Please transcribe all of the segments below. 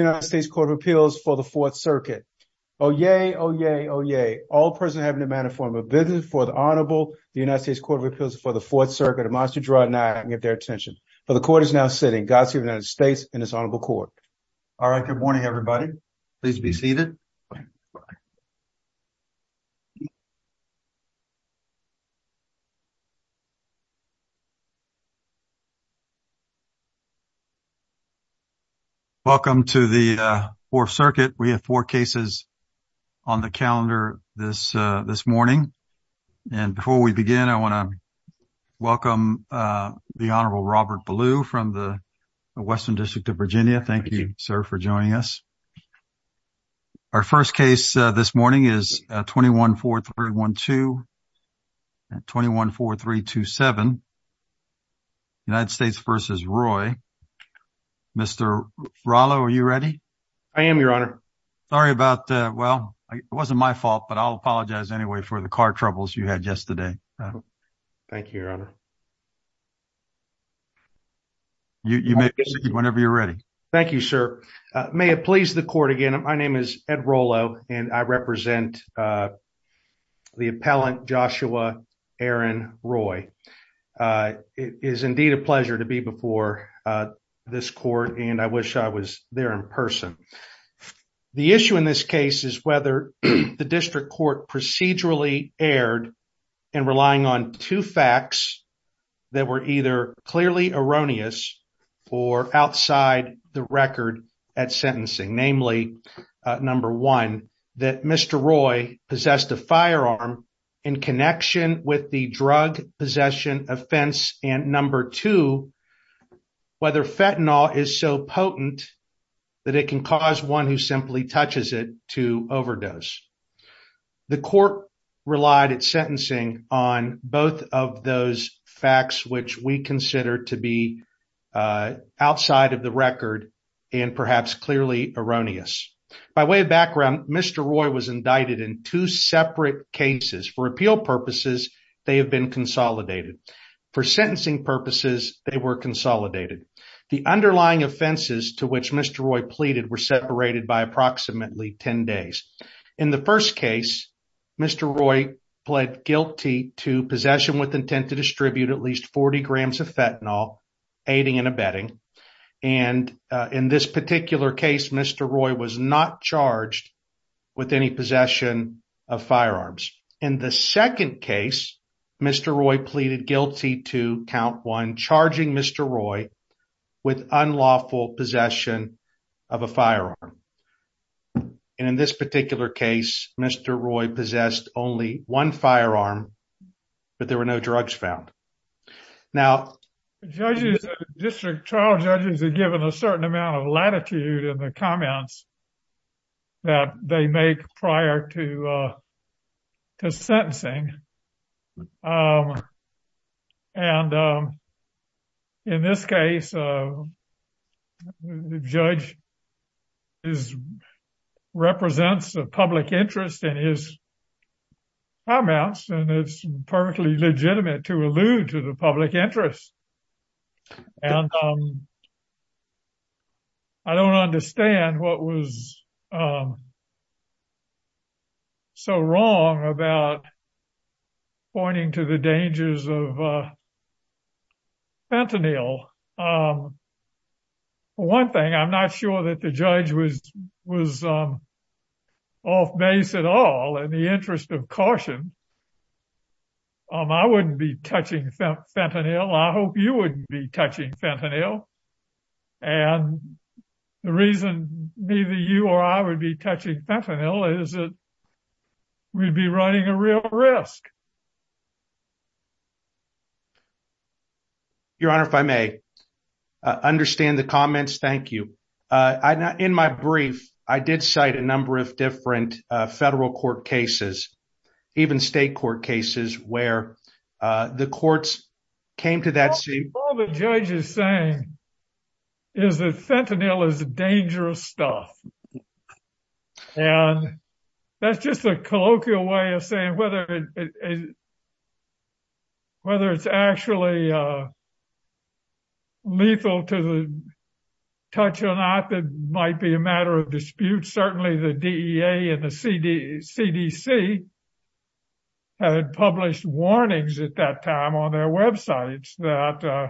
United States Court of Appeals for the Fourth Circuit. Oh, yay. Oh, yay. Oh, yay. All present have in a manner form a business for the Honorable the United States Court of Appeals for the Fourth Circuit. A monster draw not get their attention, but the court is now sitting. God save the United States and his Honorable Court. All right. Good morning, everybody. Please be seated. Welcome to the Fourth Circuit. We have four cases on the calendar this morning. And before we begin, I want to welcome the Honorable Robert Ballew from the Our first case this morning is 21 4312 and 21 4327 United States v. Roy. Mr. Rallo, are you ready? I am, Your Honor. Sorry about that. Well, it wasn't my fault, but I'll apologize anyway for the car troubles you had yesterday. Thank you, Your Honor. You may be seated whenever you're Thank you, sir. May it please the court again. My name is Ed Rollo, and I represent the appellant Joshua Aaron Roy. It is indeed a pleasure to be before this court, and I wish I was there in person. The issue in this case is whether the district court procedurally erred in relying on two facts that were either clearly erroneous or outside the record at sentencing, namely, number one, that Mr. Roy possessed a firearm in connection with the drug possession offense, and number two, whether fentanyl is so potent that it can cause one who simply touches to overdose. The court relied at sentencing on both of those facts, which we consider to be outside of the record and perhaps clearly erroneous. By way of background, Mr. Roy was indicted in two separate cases. For appeal purposes, they have been consolidated. For sentencing purposes, they were consolidated. The underlying offenses to which Mr. Roy pleaded were separated by approximately 10 days. In the first case, Mr. Roy pled guilty to possession with intent to distribute at least 40 grams of fentanyl, aiding and abetting, and in this particular case, Mr. Roy was not charged with any possession of firearms. In the second case, Mr. Roy pleaded guilty to count one, charging Mr. Roy with unlawful possession of a firearm, and in this particular case, Mr. Roy possessed only one firearm, but there were no drugs found. Now, district trial judges are given a certain amount of latitude in the comments that they make prior to sentencing, and in this case, the judge represents the public interest in his comments, and it's perfectly legitimate to allude to the public interest, and I don't understand what was so wrong about pointing to the dangers of fentanyl. One thing, I'm not sure that the judge was off base at all in the interest of caution. I wouldn't be touching fentanyl. I hope you wouldn't be touching fentanyl, and the reason neither you or I would be touching fentanyl is that we'd be running a real risk. Your Honor, if I may, I understand the comments. Thank you. In my brief, I did cite a number of federal court cases, even state court cases, where the courts came to that scene. All the judge is saying is that fentanyl is dangerous stuff, and that's just a colloquial way of saying whether it's actually lethal to the touch or not, might be a matter of dispute. Certainly, the DEA and the CDC had published warnings at that time on their websites that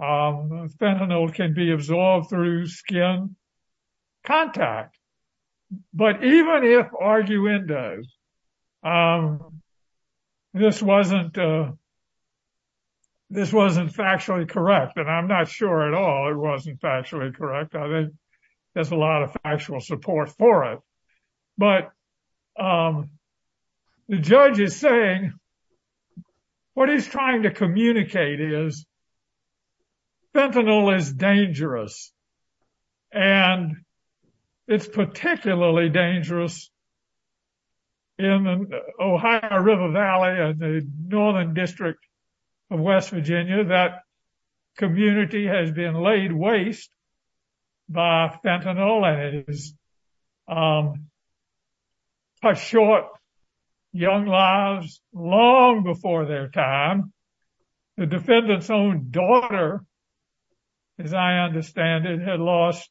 fentanyl can be absorbed through skin contact, but even if arguendo, this wasn't factually correct, and I'm not sure at all it wasn't factually correct. I think there's a lot of factual support for it, but the judge is saying what he's trying to communicate is that fentanyl is dangerous, and it's particularly dangerous in the Ohio River Valley in the northern district of West Virginia. That community has been laid waste by fentanyl, and it has short young lives long before their time. The defendant's own daughter, as I understand it, had lost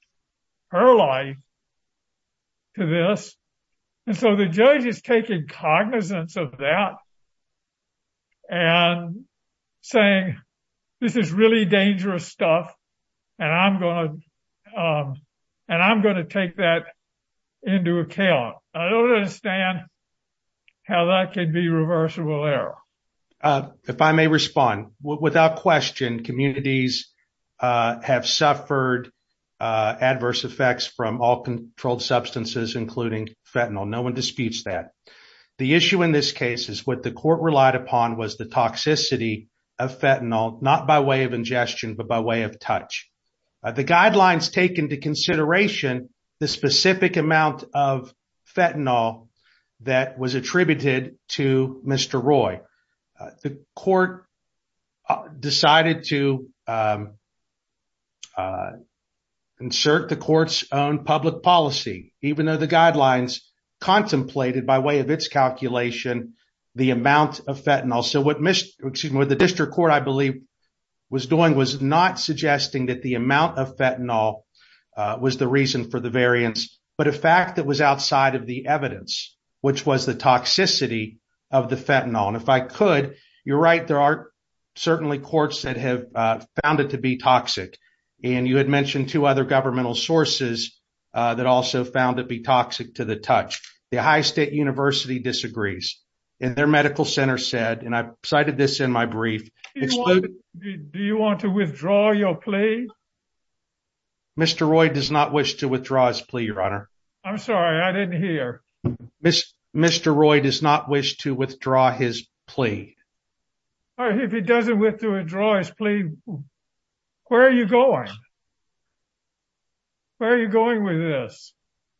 her life to this, and so the judge is taking cognizance of that and saying this is dangerous stuff, and I'm going to take that into account. I don't understand how that could be reversible error. If I may respond, without question, communities have suffered adverse effects from all controlled substances, including fentanyl. No one disputes that. The issue in this case is what the court relied upon was the toxicity of fentanyl, not by way of ingestion, but by way of touch. The guidelines take into consideration the specific amount of fentanyl that was attributed to Mr. Roy. The court decided to insert the court's own public policy, even though the guidelines contemplated by way of its public policy was not suggesting that the amount of fentanyl was the reason for the variance, but a fact that was outside of the evidence, which was the toxicity of the fentanyl. If I could, you're right, there are certainly courts that have found it to be toxic, and you had mentioned two other governmental sources that also found it to be toxic to the touch. The Ohio State University disagrees, and their medical center said, and I cited this in my brief, do you want to withdraw your plea? Mr. Roy does not wish to withdraw his plea, your honor. I'm sorry, I didn't hear. Mr. Roy does not wish to withdraw his plea. If he doesn't withdraw his plea, where are you going? Where are you going with this?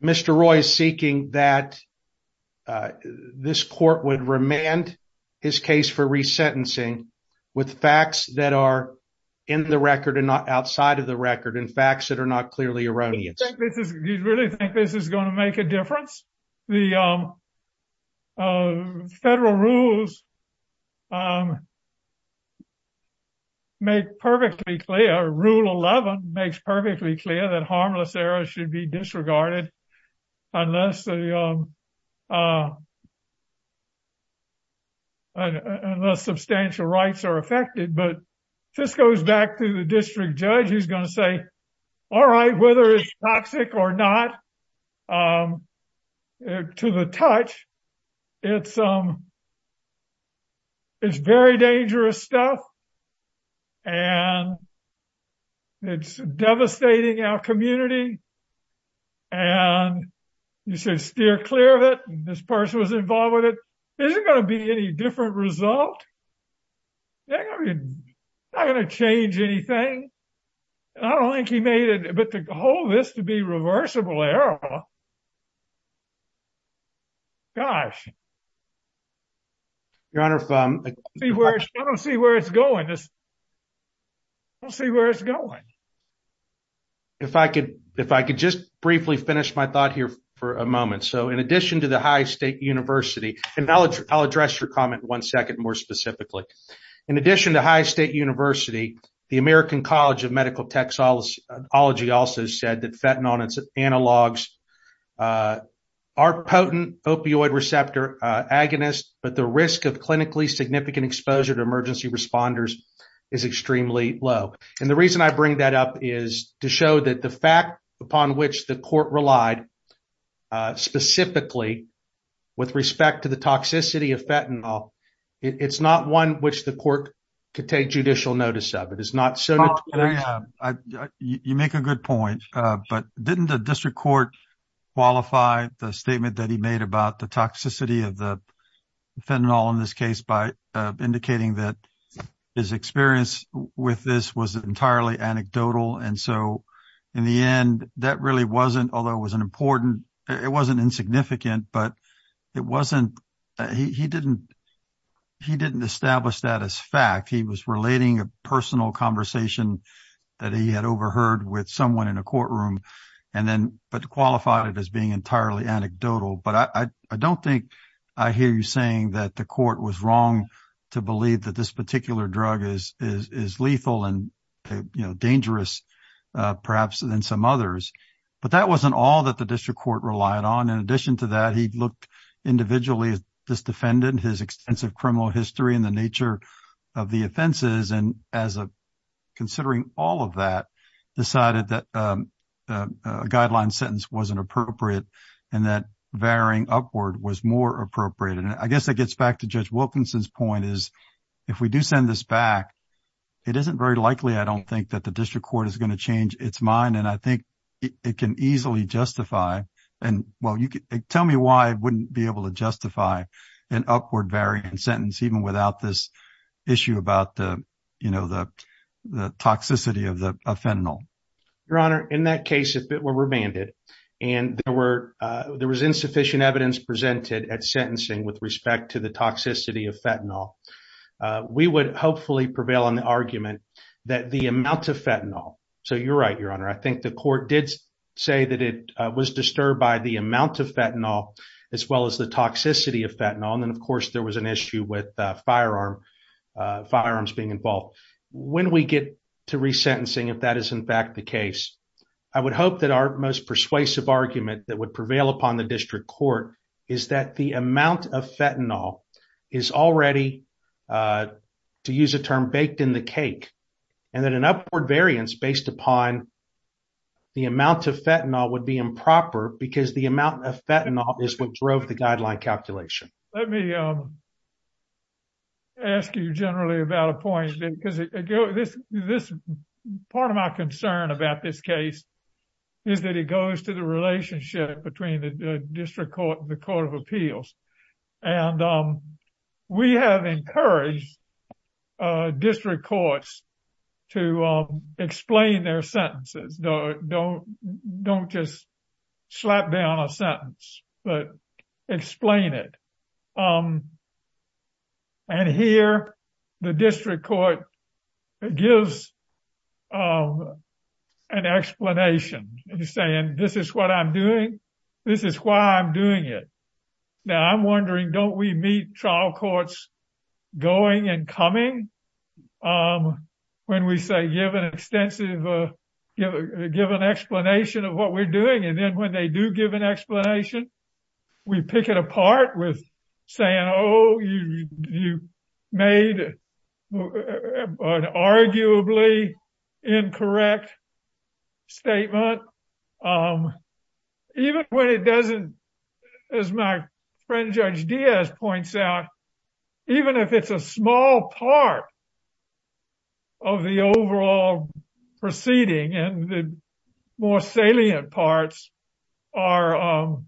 Mr. Roy is seeking that this court would remand his case for resentencing with facts that are in the record and not outside of the record, and facts that are not clearly erroneous. You really think this is going to make a difference? The federal rules make perfectly clear, rule 11 makes perfectly clear that harmless areas should be disregarded unless substantial rights are affected, but if this goes back to the district judge, he's going to say, all right, whether it's toxic or not to the touch, it's very dangerous stuff, and it's devastating our community, and you should steer clear of it. This person was involved with it, but to hold this to be reversible error, gosh. Your honor, I don't see where it's going. I don't see where it's going. If I could just briefly finish my thought here for a moment, so in addition to the high state university, and I'll address your comment one second more specifically, in addition to high state university, the American college of medical technology also said that fentanyl and its analogs are potent opioid receptor agonists, but the risk of clinically significant exposure to emergency responders is extremely low, and the reason I bring that up is to show that the fact upon which the court relied specifically with respect to the toxicity of fentanyl, it's not one which the court could take judicial notice of. You make a good point, but didn't the district court qualify the statement that he made about the toxicity of the fentanyl in this case by indicating that his experience with this was entirely anecdotal, and so in the end, that really although it was an important, it wasn't insignificant, but he didn't establish that as fact. He was relating a personal conversation that he had overheard with someone in a courtroom, but qualified it as being entirely anecdotal, but I don't think I hear you saying that the court was wrong to believe that this particular drug is lethal and dangerous perhaps than some others, but that wasn't all that the district court relied on. In addition to that, he looked individually at this defendant, his extensive criminal history, and the nature of the offenses, and considering all of that, decided that a guideline sentence wasn't appropriate and that varying upward was more appropriate, and I guess that gets back to Judge Wilkinson's point is if we do send this back, it isn't very likely I don't think that the district court is going to change its mind, and I think it can easily justify and well you could tell me why it wouldn't be able to justify an upward variant sentence even without this issue about the you know the the toxicity of the fentanyl. Your honor, in that case if it were remanded and there were there was insufficient evidence presented at sentencing with respect to the toxicity of fentanyl we would hopefully prevail on the argument that the amount of fentanyl, so you're right your honor, I think the court did say that it was disturbed by the amount of fentanyl as well as the toxicity of fentanyl, and of course there was an issue with firearms being involved. When we get to resentencing, if that is in fact the case, I would hope that our most persuasive argument that would to use a term baked in the cake and that an upward variance based upon the amount of fentanyl would be improper because the amount of fentanyl is what drove the guideline calculation. Let me ask you generally about a point because this part of my concern about this case is that it goes to the relationship between the district court and the court of appeals, and we have encouraged district courts to explain their sentences. Don't just slap down a sentence, but explain it, and here the district court gives an explanation. He's saying this is what I'm doing, this is why I'm doing it. Now I'm wondering don't we meet trial courts going and coming when we say give an extensive, give an explanation of what we're doing, and then when they do give an explanation we pick it apart with saying oh you made an arguably incorrect statement. Even when it doesn't, as my friend Judge Diaz points out, even if it's a small part of the overall proceeding and the more salient parts are of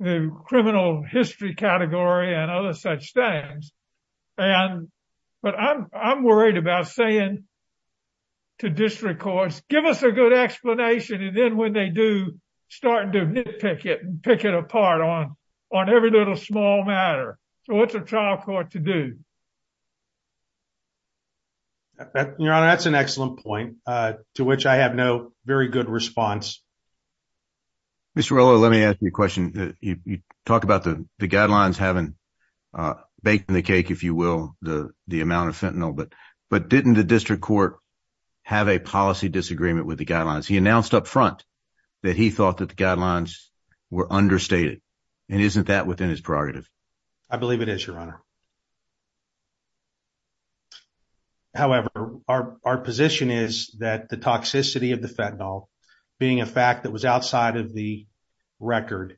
the criminal history category and other such things, but I'm worried about saying to district courts give us a good explanation and then when they do start to nitpick it and pick it apart on every little small matter. So what's a trial court to do? Your honor, that's an excellent point to which I have no very good response. Mr. Rolo, let me ask you a question. You talk about the the guidelines having baked in the cake, if you will, the the amount of fentanyl, but didn't the district court have a policy disagreement with the guidelines? He announced up front that he thought that the guidelines were understated, and isn't that within his prerogative? I believe it is, your honor. However, our our position is that the toxicity of the fentanyl, being a fact that was outside of the record,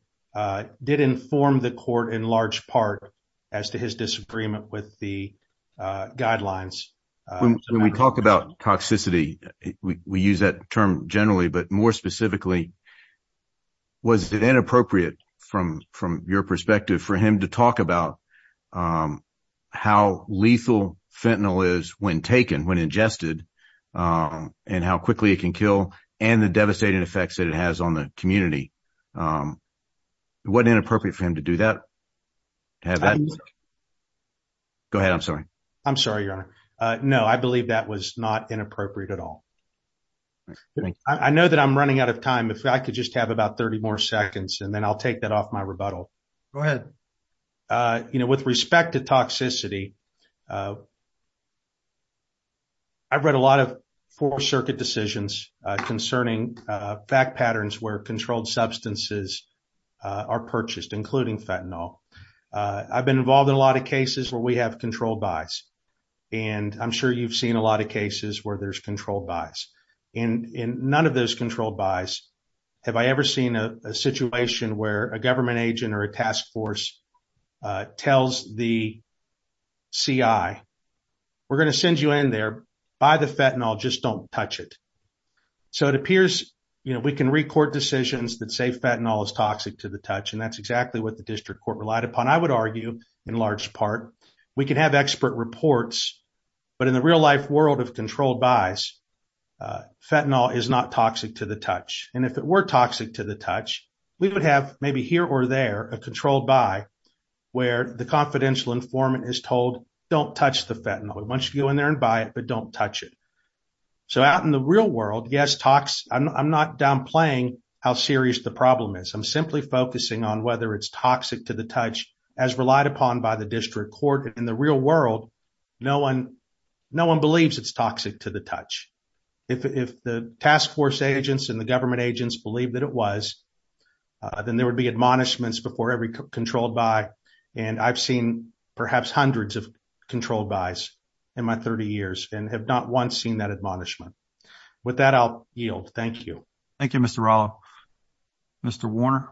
did inform the court in large part as to his disagreement with the guidelines. When we talk about toxicity, we use that term generally, but more specifically, was it inappropriate from from your perspective for him to talk about how lethal fentanyl is when taken, when ingested, and how quickly it can kill, and the devastating effects that it has on the community? It wasn't inappropriate for him to do that? Go ahead, I'm sorry. I'm sorry, your honor. No, I believe that was not inappropriate at all. I know that I'm running out of time. If I could just have about 30 more seconds, and then I'll take that off my rebuttal. Go ahead. Uh, you know, with respect to toxicity, I've read a lot of four circuit decisions concerning fact patterns where controlled substances are purchased, including fentanyl. I've been involved in a lot of cases where we have controlled buys, and I'm sure you've seen a lot of cases where there's controlled buys. In in none of those controlled buys have I ever seen a situation where a government agent or a task force tells the CI, we're going to send you in there, buy the fentanyl, just don't touch it. So it appears, you know, we can record decisions that say fentanyl is toxic to the touch, and that's exactly what the district court relied upon. I would argue, in large part, we can have expert reports, but in the real life world of controlled buys, fentanyl is not toxic to the touch. And if it were toxic to the touch, we would have maybe here or there a controlled buy where the confidential informant is told, don't touch the fentanyl. We want you to go in there and buy it, but don't touch it. So out in the real world, yes, I'm not downplaying how serious the problem is. I'm simply focusing on whether it's toxic to the touch as relied upon by the district court. In the real world, no one believes it's toxic to the touch. If the task force agents and the government agents believed that it was, then there would be admonishments before every controlled buy. And I've seen perhaps hundreds of controlled buys in my 30 years and have not once seen that admonishment. With that, I'll yield. Thank you. Thank you, Mr. Rallo. Mr. Warner.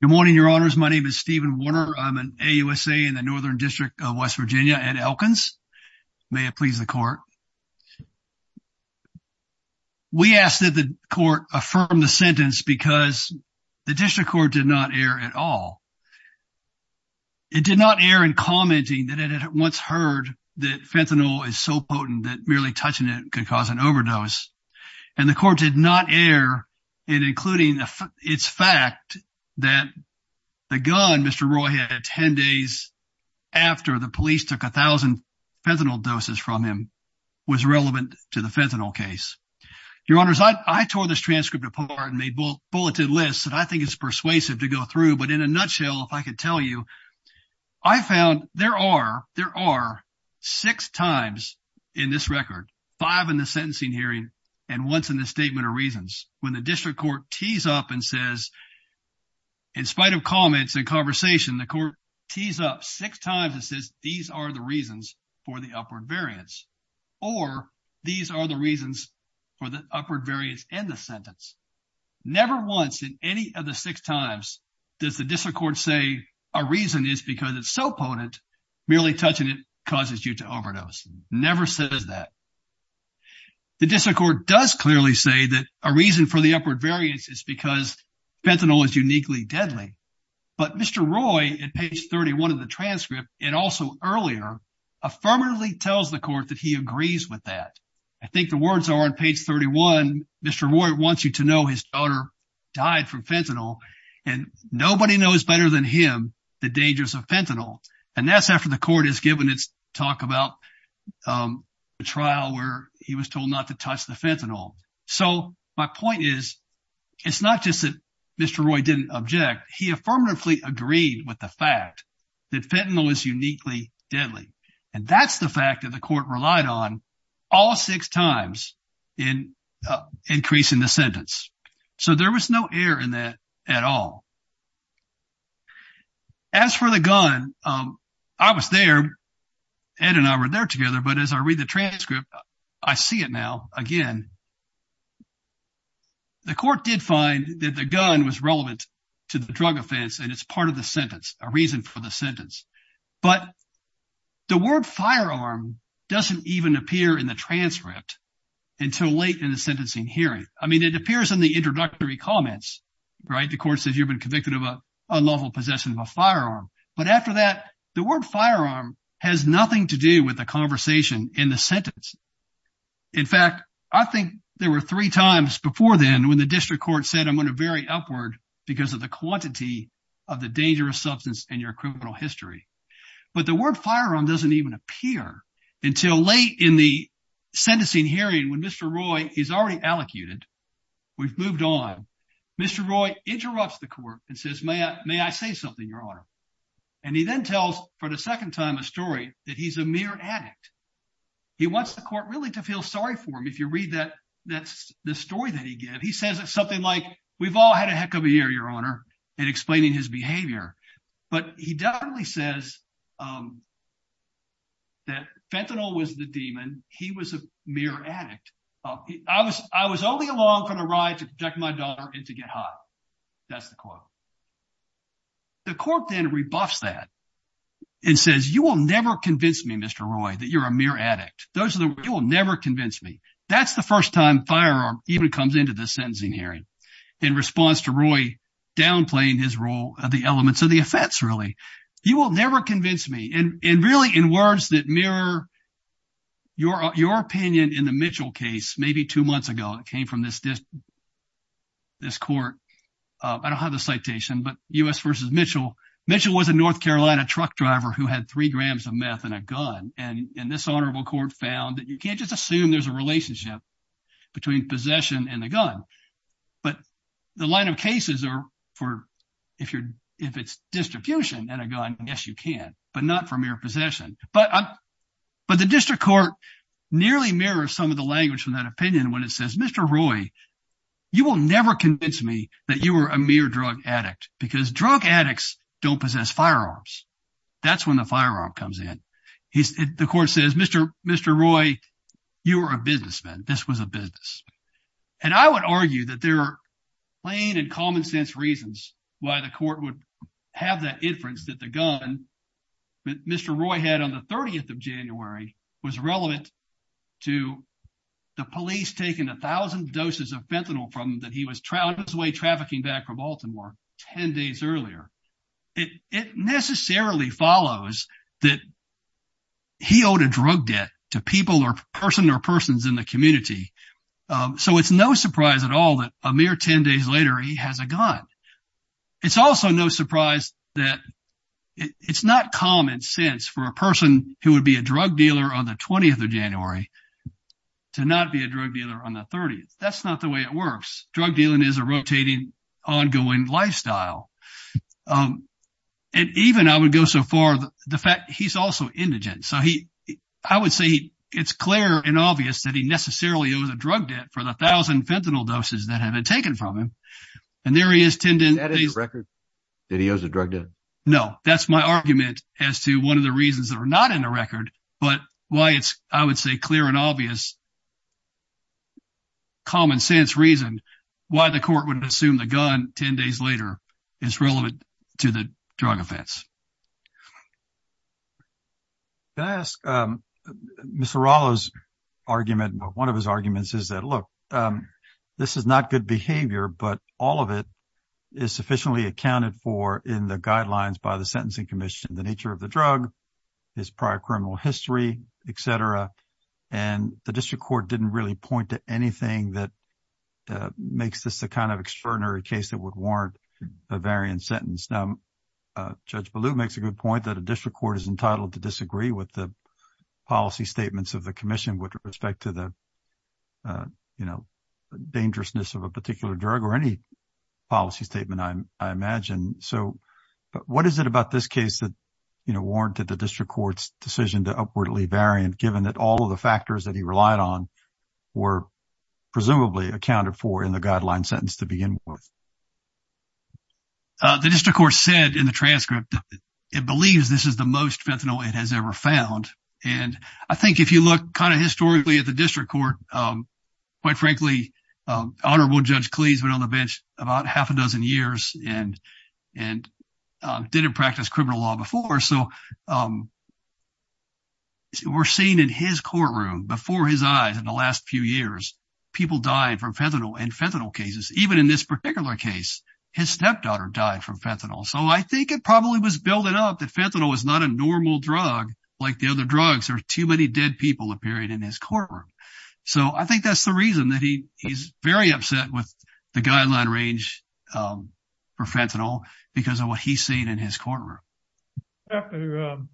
Good morning, your honors. My name is Steven Warner. I'm an AUSA in the Northern District of West Virginia at Elkins. May it please the court. We ask that the court affirm the sentence because the district court did not err at all. It did not err in commenting that it had once heard that fentanyl is so potent that merely touching it could cause an overdose. And the court did not err in including its fact that the gun Mr. Roy had 10 days after the police took 1,000 fentanyl doses from him was relevant to the fentanyl case. Your honors, I tore this transcript apart and made bulleted lists that I think is persuasive to go through. But in a nutshell, if I could tell you, I found there are six times in this record, five in the sentencing hearing and once in the statement of reasons, when the district court tees up and says, in spite of comments and conversation, the court tees up six times and says, these are the reasons for the upward variance. Or these are the reasons for the upward variance in the sentence. Never once in any of the six times does the district court say a reason is because it's so potent, merely touching it causes you to is because fentanyl is uniquely deadly. But Mr. Roy, in page 31 of the transcript, and also earlier, affirmatively tells the court that he agrees with that. I think the words are on page 31, Mr. Roy wants you to know his daughter died from fentanyl. And nobody knows better than him the dangers of fentanyl. And that's after the court has given talk about a trial where he was told not to touch the fentanyl. So my point is, it's not just that Mr. Roy didn't object. He affirmatively agreed with the fact that fentanyl is uniquely deadly. And that's the fact that the court relied on all six times in increasing the sentence. So there was no error in that at all. As for the gun, I was there, Ed and I were there together. But as I read the transcript, I see it now again. The court did find that the gun was relevant to the drug offense. And it's part of the sentence, a reason for the sentence. But the word firearm doesn't even appear in the transcript until late in the sentencing hearing. I mean, it appears in the introductory comments, right? The court says you've been convicted of a unlawful possession of a firearm. But after that, the word firearm has nothing to do with the conversation in the sentence. In fact, I think there were three times before then when the district court said I'm going to vary upward because of the quantity of the dangerous substance in your criminal history. But the word sentencing hearing when Mr. Roy is already allocated, we've moved on. Mr. Roy interrupts the court and says, may I say something, Your Honor? And he then tells for the second time a story that he's a mere addict. He wants the court really to feel sorry for him. If you read the story that he gave, he says something like, we've all had a heck of a year, Your Honor, in explaining his behavior. But he definitely says that fentanyl was the demon. He was a mere addict. I was only along for the ride to protect my daughter and to get high. That's the quote. The court then rebuffs that and says, you will never convince me, Mr. Roy, that you're a mere addict. You will never convince me. That's the first time firearm even comes into the sentencing hearing in response to Roy downplaying his role of the elements of the offense, really. You will never convince me. And really, in words that mirror your opinion in the Mitchell case, maybe two months ago, it came from this court. I don't have the citation, but U.S. v. Mitchell. Mitchell was a North Carolina truck driver who had three grams of meth in a gun. And this honorable court found that you can't just assume there's a relationship between possession and a gun. But the line of cases are for, if it's distribution and a gun, yes, you can, but not for mere possession. But the district court nearly mirrors some of the language from that opinion when it says, Mr. Roy, you will never convince me that you were a mere drug addict because drug addicts don't possess firearms. That's when the This was a business. And I would argue that there are plain and common sense reasons why the court would have that inference that the gun that Mr. Roy had on the 30th of January was relevant to the police taking a thousand doses of fentanyl from him that he was on his way trafficking back from Baltimore 10 days earlier. It necessarily follows that he owed a drug debt to people or person or persons in the community. So it's no surprise at all that a mere 10 days later, he has a gun. It's also no surprise that it's not common sense for a person who would be a drug dealer on the 20th of January to not be a drug dealer on the 30th. That's not the way it works. Drug dealing is a rotating, ongoing lifestyle. And even I would go so far, the fact I would say it's clear and obvious that he necessarily owes a drug debt for the thousand fentanyl doses that have been taken from him. And there he is 10 days later. Is that his record that he owes a drug debt? No, that's my argument as to one of the reasons that are not in the record, but why it's, I would say, clear and obvious common sense reason why the court would assume the gun 10 days later is relevant to the drug offense. Can I ask, Mr. Rallo's argument, one of his arguments is that, look, this is not good behavior, but all of it is sufficiently accounted for in the guidelines by the Sentencing Commission, the nature of the drug, his prior criminal history, et cetera. And the district court didn't really point to anything that makes this the kind of extraordinary case that would warrant a variant sentence. Now, Judge Ballou makes a good point that a district court is entitled to disagree with the policy statements of the commission with respect to the dangerousness of a particular drug or any policy statement, I imagine. So what is it about this case that warranted the district court's decision to upwardly variant, given that all of the factors that he relied on were presumably accounted for in the guideline sentence to begin with? The district court said in the transcript, it believes this is the most fentanyl it has ever found. And I think if you look kind of historically at the district court, quite frankly, Honorable Judge Cleese went on the bench about half a dozen years and didn't practice criminal law before. So we're seeing in his courtroom before his eyes in the last few years, people dying from fentanyl and fentanyl cases. Even in this particular case, his stepdaughter died from fentanyl. So I think it probably was building up that fentanyl is not a normal drug like the other drugs. There are too many dead people appearing in his courtroom. So I think that's the reason that he's very upset with the guideline range for fentanyl because of what he's seen in his courtroom. I have to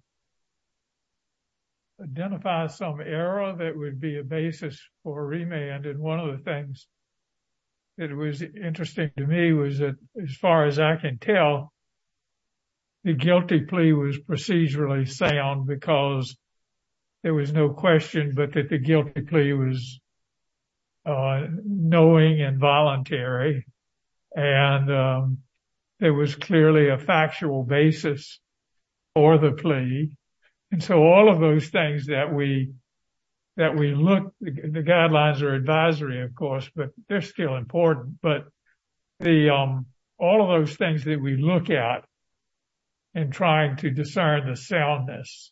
identify some error that would be a basis for remand. And one of the things that was interesting to me was that as far as I can tell, the guilty plea was procedurally sound because there was no question but that the guilty plea was knowing and voluntary. And there was clearly a factual basis for the plea. And so all of those things that we look, the guidelines are advisory, of course, but they're still important. But all of those things that we look at in trying to discern the soundness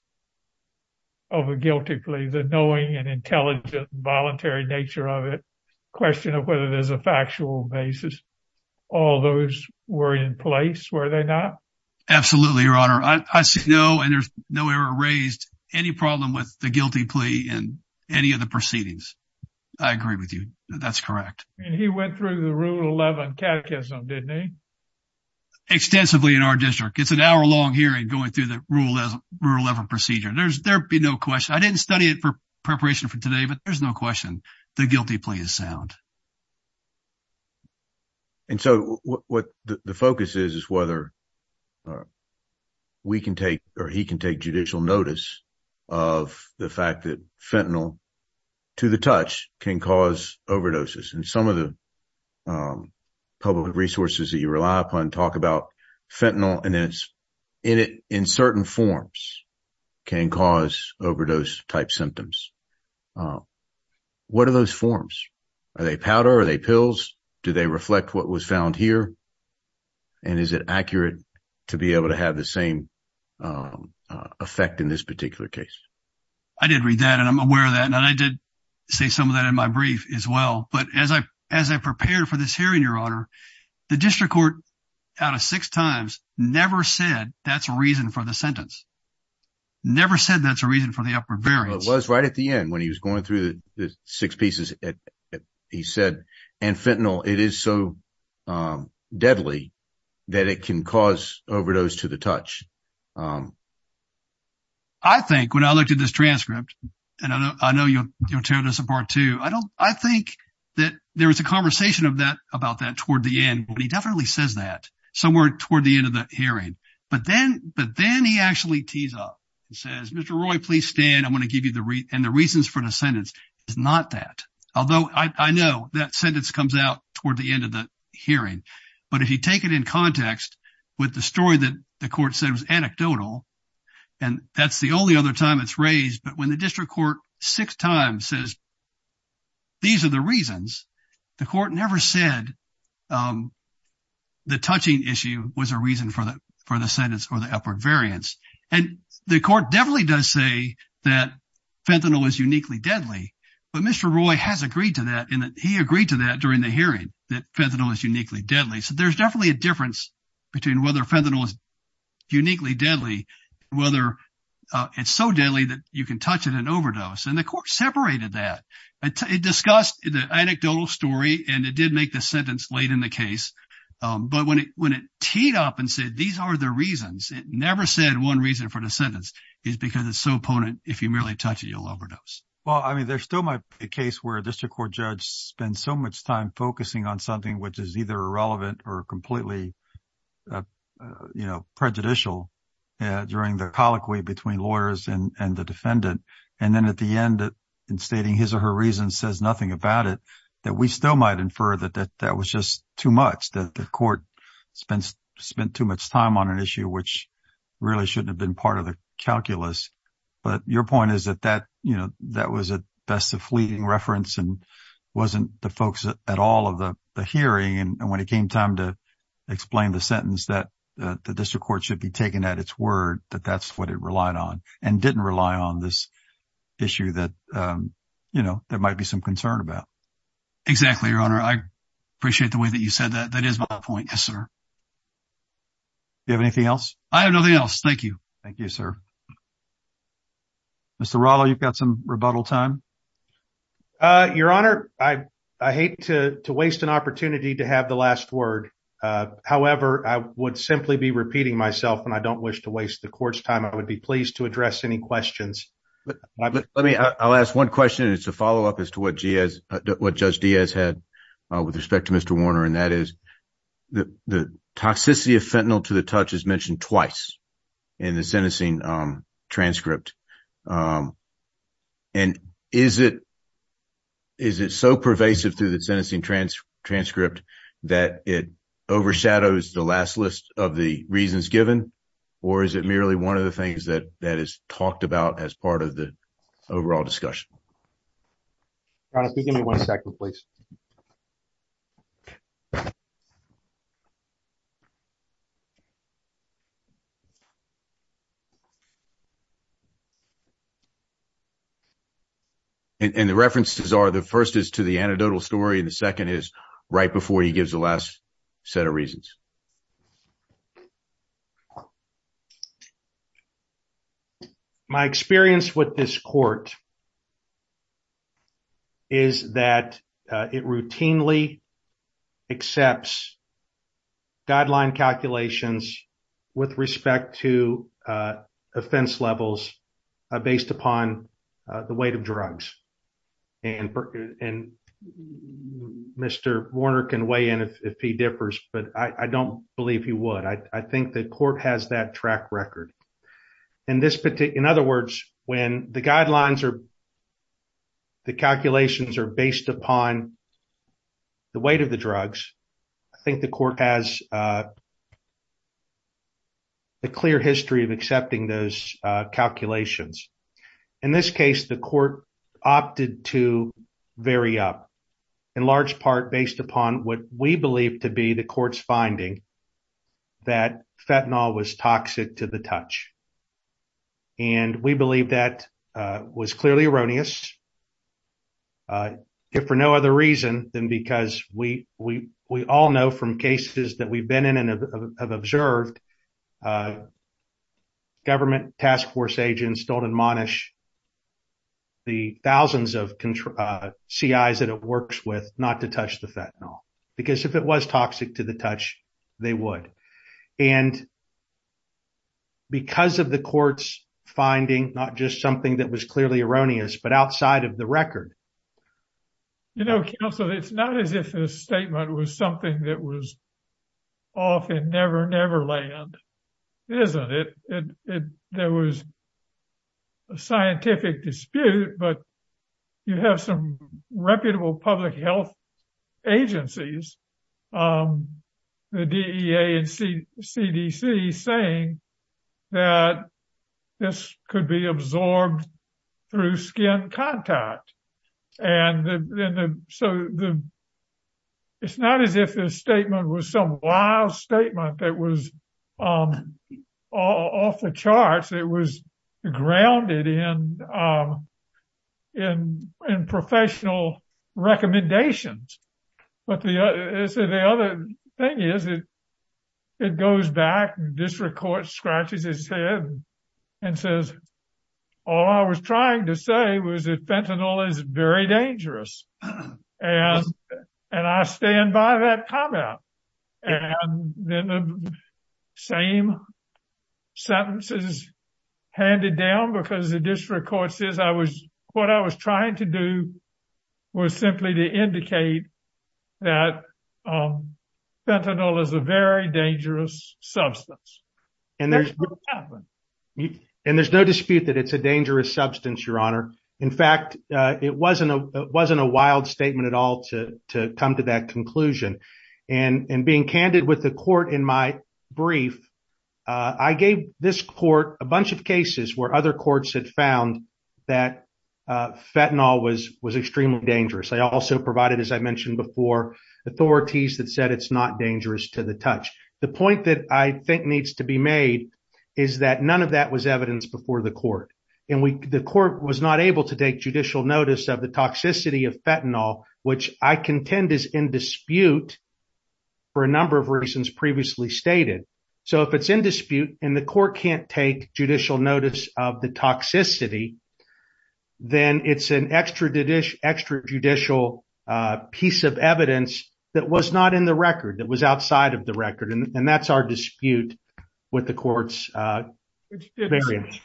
of a guilty plea, the knowing and intelligent, voluntary nature of it, question of whether there's a factual basis, all those were in place, were they not? Absolutely, Your Honor. I see no, and there's no error raised, any problem with the guilty plea in any of the proceedings. I agree with you. That's correct. And he went through the Rule 11 catechism, didn't he? Extensively in our district. It's an hour-long hearing going through the Rule 11 procedure. There'd be no question. I didn't study it for preparation for today, but there's no question the guilty plea is sound. And so what the focus is, is whether we can take or he can take judicial notice of the fact that fentanyl to the touch can cause overdoses. And some of the public resources that you rely upon talk about fentanyl and it's in certain forms can cause overdose-type symptoms. What are those forms? Are they powder? Are they pills? Do they reflect what was found here? And is it accurate to be able to have the same effect in this particular case? I did read that and I'm aware of that, and I did say some of that in my brief as well. But as I prepared for this hearing, Your Honor, the district court, out of six times, never said that's a reason for the sentence. Never said that's a reason for the upper variance. It was right at the end when he was going through the six pieces. He said, and fentanyl, it is so deadly that it can cause overdose to the touch. I think when I looked at this transcript, and I know you'll tear this apart too. I think that there was a conversation about that toward the end, but he definitely says that somewhere toward the end of the hearing. But then he actually tees up and says, Mr. Roy, please stand. I'm going to give you the reason. And the reasons for the sentence is not that. Although I know that sentence comes out toward the end of the hearing. But if you take it in context with the story that the court said was anecdotal, and that's the only other time it's raised. But when the district court six times says, these are the reasons, the court never said the touching issue was a reason for the sentence or the upper variance. And the court definitely does say that fentanyl is uniquely deadly. But Mr. Roy has agreed to that, and he agreed to that during the hearing, that fentanyl is uniquely deadly. So there's definitely a difference between whether fentanyl is uniquely deadly, whether it's so deadly that you can touch it and overdose. And the court separated that. It discussed the anecdotal story, and it did make the sentence late in the case. But when it teed up and said, these are the reasons, it never said one reason for the sentence is because it's so potent, if you merely touch it, you'll overdose. Well, I mean, there's still a case where a district court judge spends so much time focusing on something which is either irrelevant or completely prejudicial during the colloquy between lawyers and the defendant. And then at the end, in stating his or her reason says nothing about it, that we still might infer that that was just too much, that the court spent too much time on an issue which really shouldn't have been part of the calculus. But your point is that that was at best a fleeting reference and wasn't the focus at all of the hearing. And when it came time to explain the sentence, that the district court should be and didn't rely on this issue that there might be some concern about. Exactly, your honor. I appreciate the way that you said that. That is my point. Yes, sir. Do you have anything else? I have nothing else. Thank you. Thank you, sir. Mr. Rallo, you've got some rebuttal time. Your honor, I hate to waste an opportunity to have the last word. However, I would simply be to address any questions. I'll ask one question. It's a follow-up as to what Judge Diaz had with respect to Mr. Warner, and that is the toxicity of fentanyl to the touch is mentioned twice in the sentencing transcript. And is it so pervasive through the sentencing transcript that it overshadows the last list of the reasons given, or is it merely one of the things that is talked about as part of the overall discussion? Your honor, could you give me one second, please? And the references are the first is to the anecdotal story and the second is right before he gives the last set of reasons. My experience with this court is that it routinely accepts guideline calculations with respect to offense levels based upon the weight of drugs. And Mr. Warner can weigh in if he differs, but I don't believe he would. I think the court has that track record. In other words, when the guidelines or the calculations are based upon the weight of the drugs, I think the court has a clear history of accepting those calculations. In this case, the court opted to vary up in large part based upon what we believe to be court's finding that fentanyl was toxic to the touch. And we believe that was clearly erroneous for no other reason than because we all know from cases that we've been in and have observed, government task force agents don't admonish the thousands of CIs that it works with not touch the fentanyl. Because if it was toxic to the touch, they would. And because of the court's finding, not just something that was clearly erroneous, but outside of the record. You know, counsel, it's not as if this statement was something that was often never, never land, isn't it? There was a scientific dispute, but you have some agencies, the DEA and CDC saying that this could be absorbed through skin contact. It's not as if this statement was some wild statement that was off the charts. It was grounded in professional recommendations. But the other thing is that it goes back and district court scratches his head and says, all I was trying to say was that the fentanyl is a very dangerous substance. And there's no dispute that it's a dangerous substance, your honor. In fact, it wasn't a wild statement at all to come to that conclusion. And being candid with the court in my brief, I gave this court a bunch of cases where other courts had found that fentanyl was extremely dangerous. I also provided, as I mentioned before, authorities that said it's not dangerous to the touch. The point that I think needs to be made is that none of that was evidence before the court. And the court was not able to take judicial notice of the toxicity of fentanyl, which I contend is in dispute for a number of reasons previously stated. So if it's in dispute and the court can't take judicial notice of the toxicity, then it's an extra judicial piece of evidence that was not in the record, that was outside of the record. And that's our dispute with the courts. Thank you, Mr.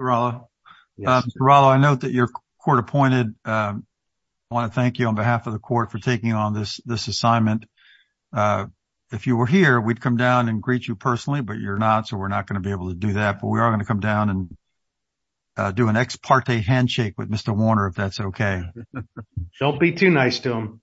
Rallo. Mr. Rallo, I note that you're court appointed. I want to thank you on behalf of the court for taking on this assignment. If you were here, we'd come down and greet you personally, but you're not, so we're not going to be able to do that. But we are going to come down and do an ex parte handshake with Mr. Warner if that's okay. Don't be too nice to him.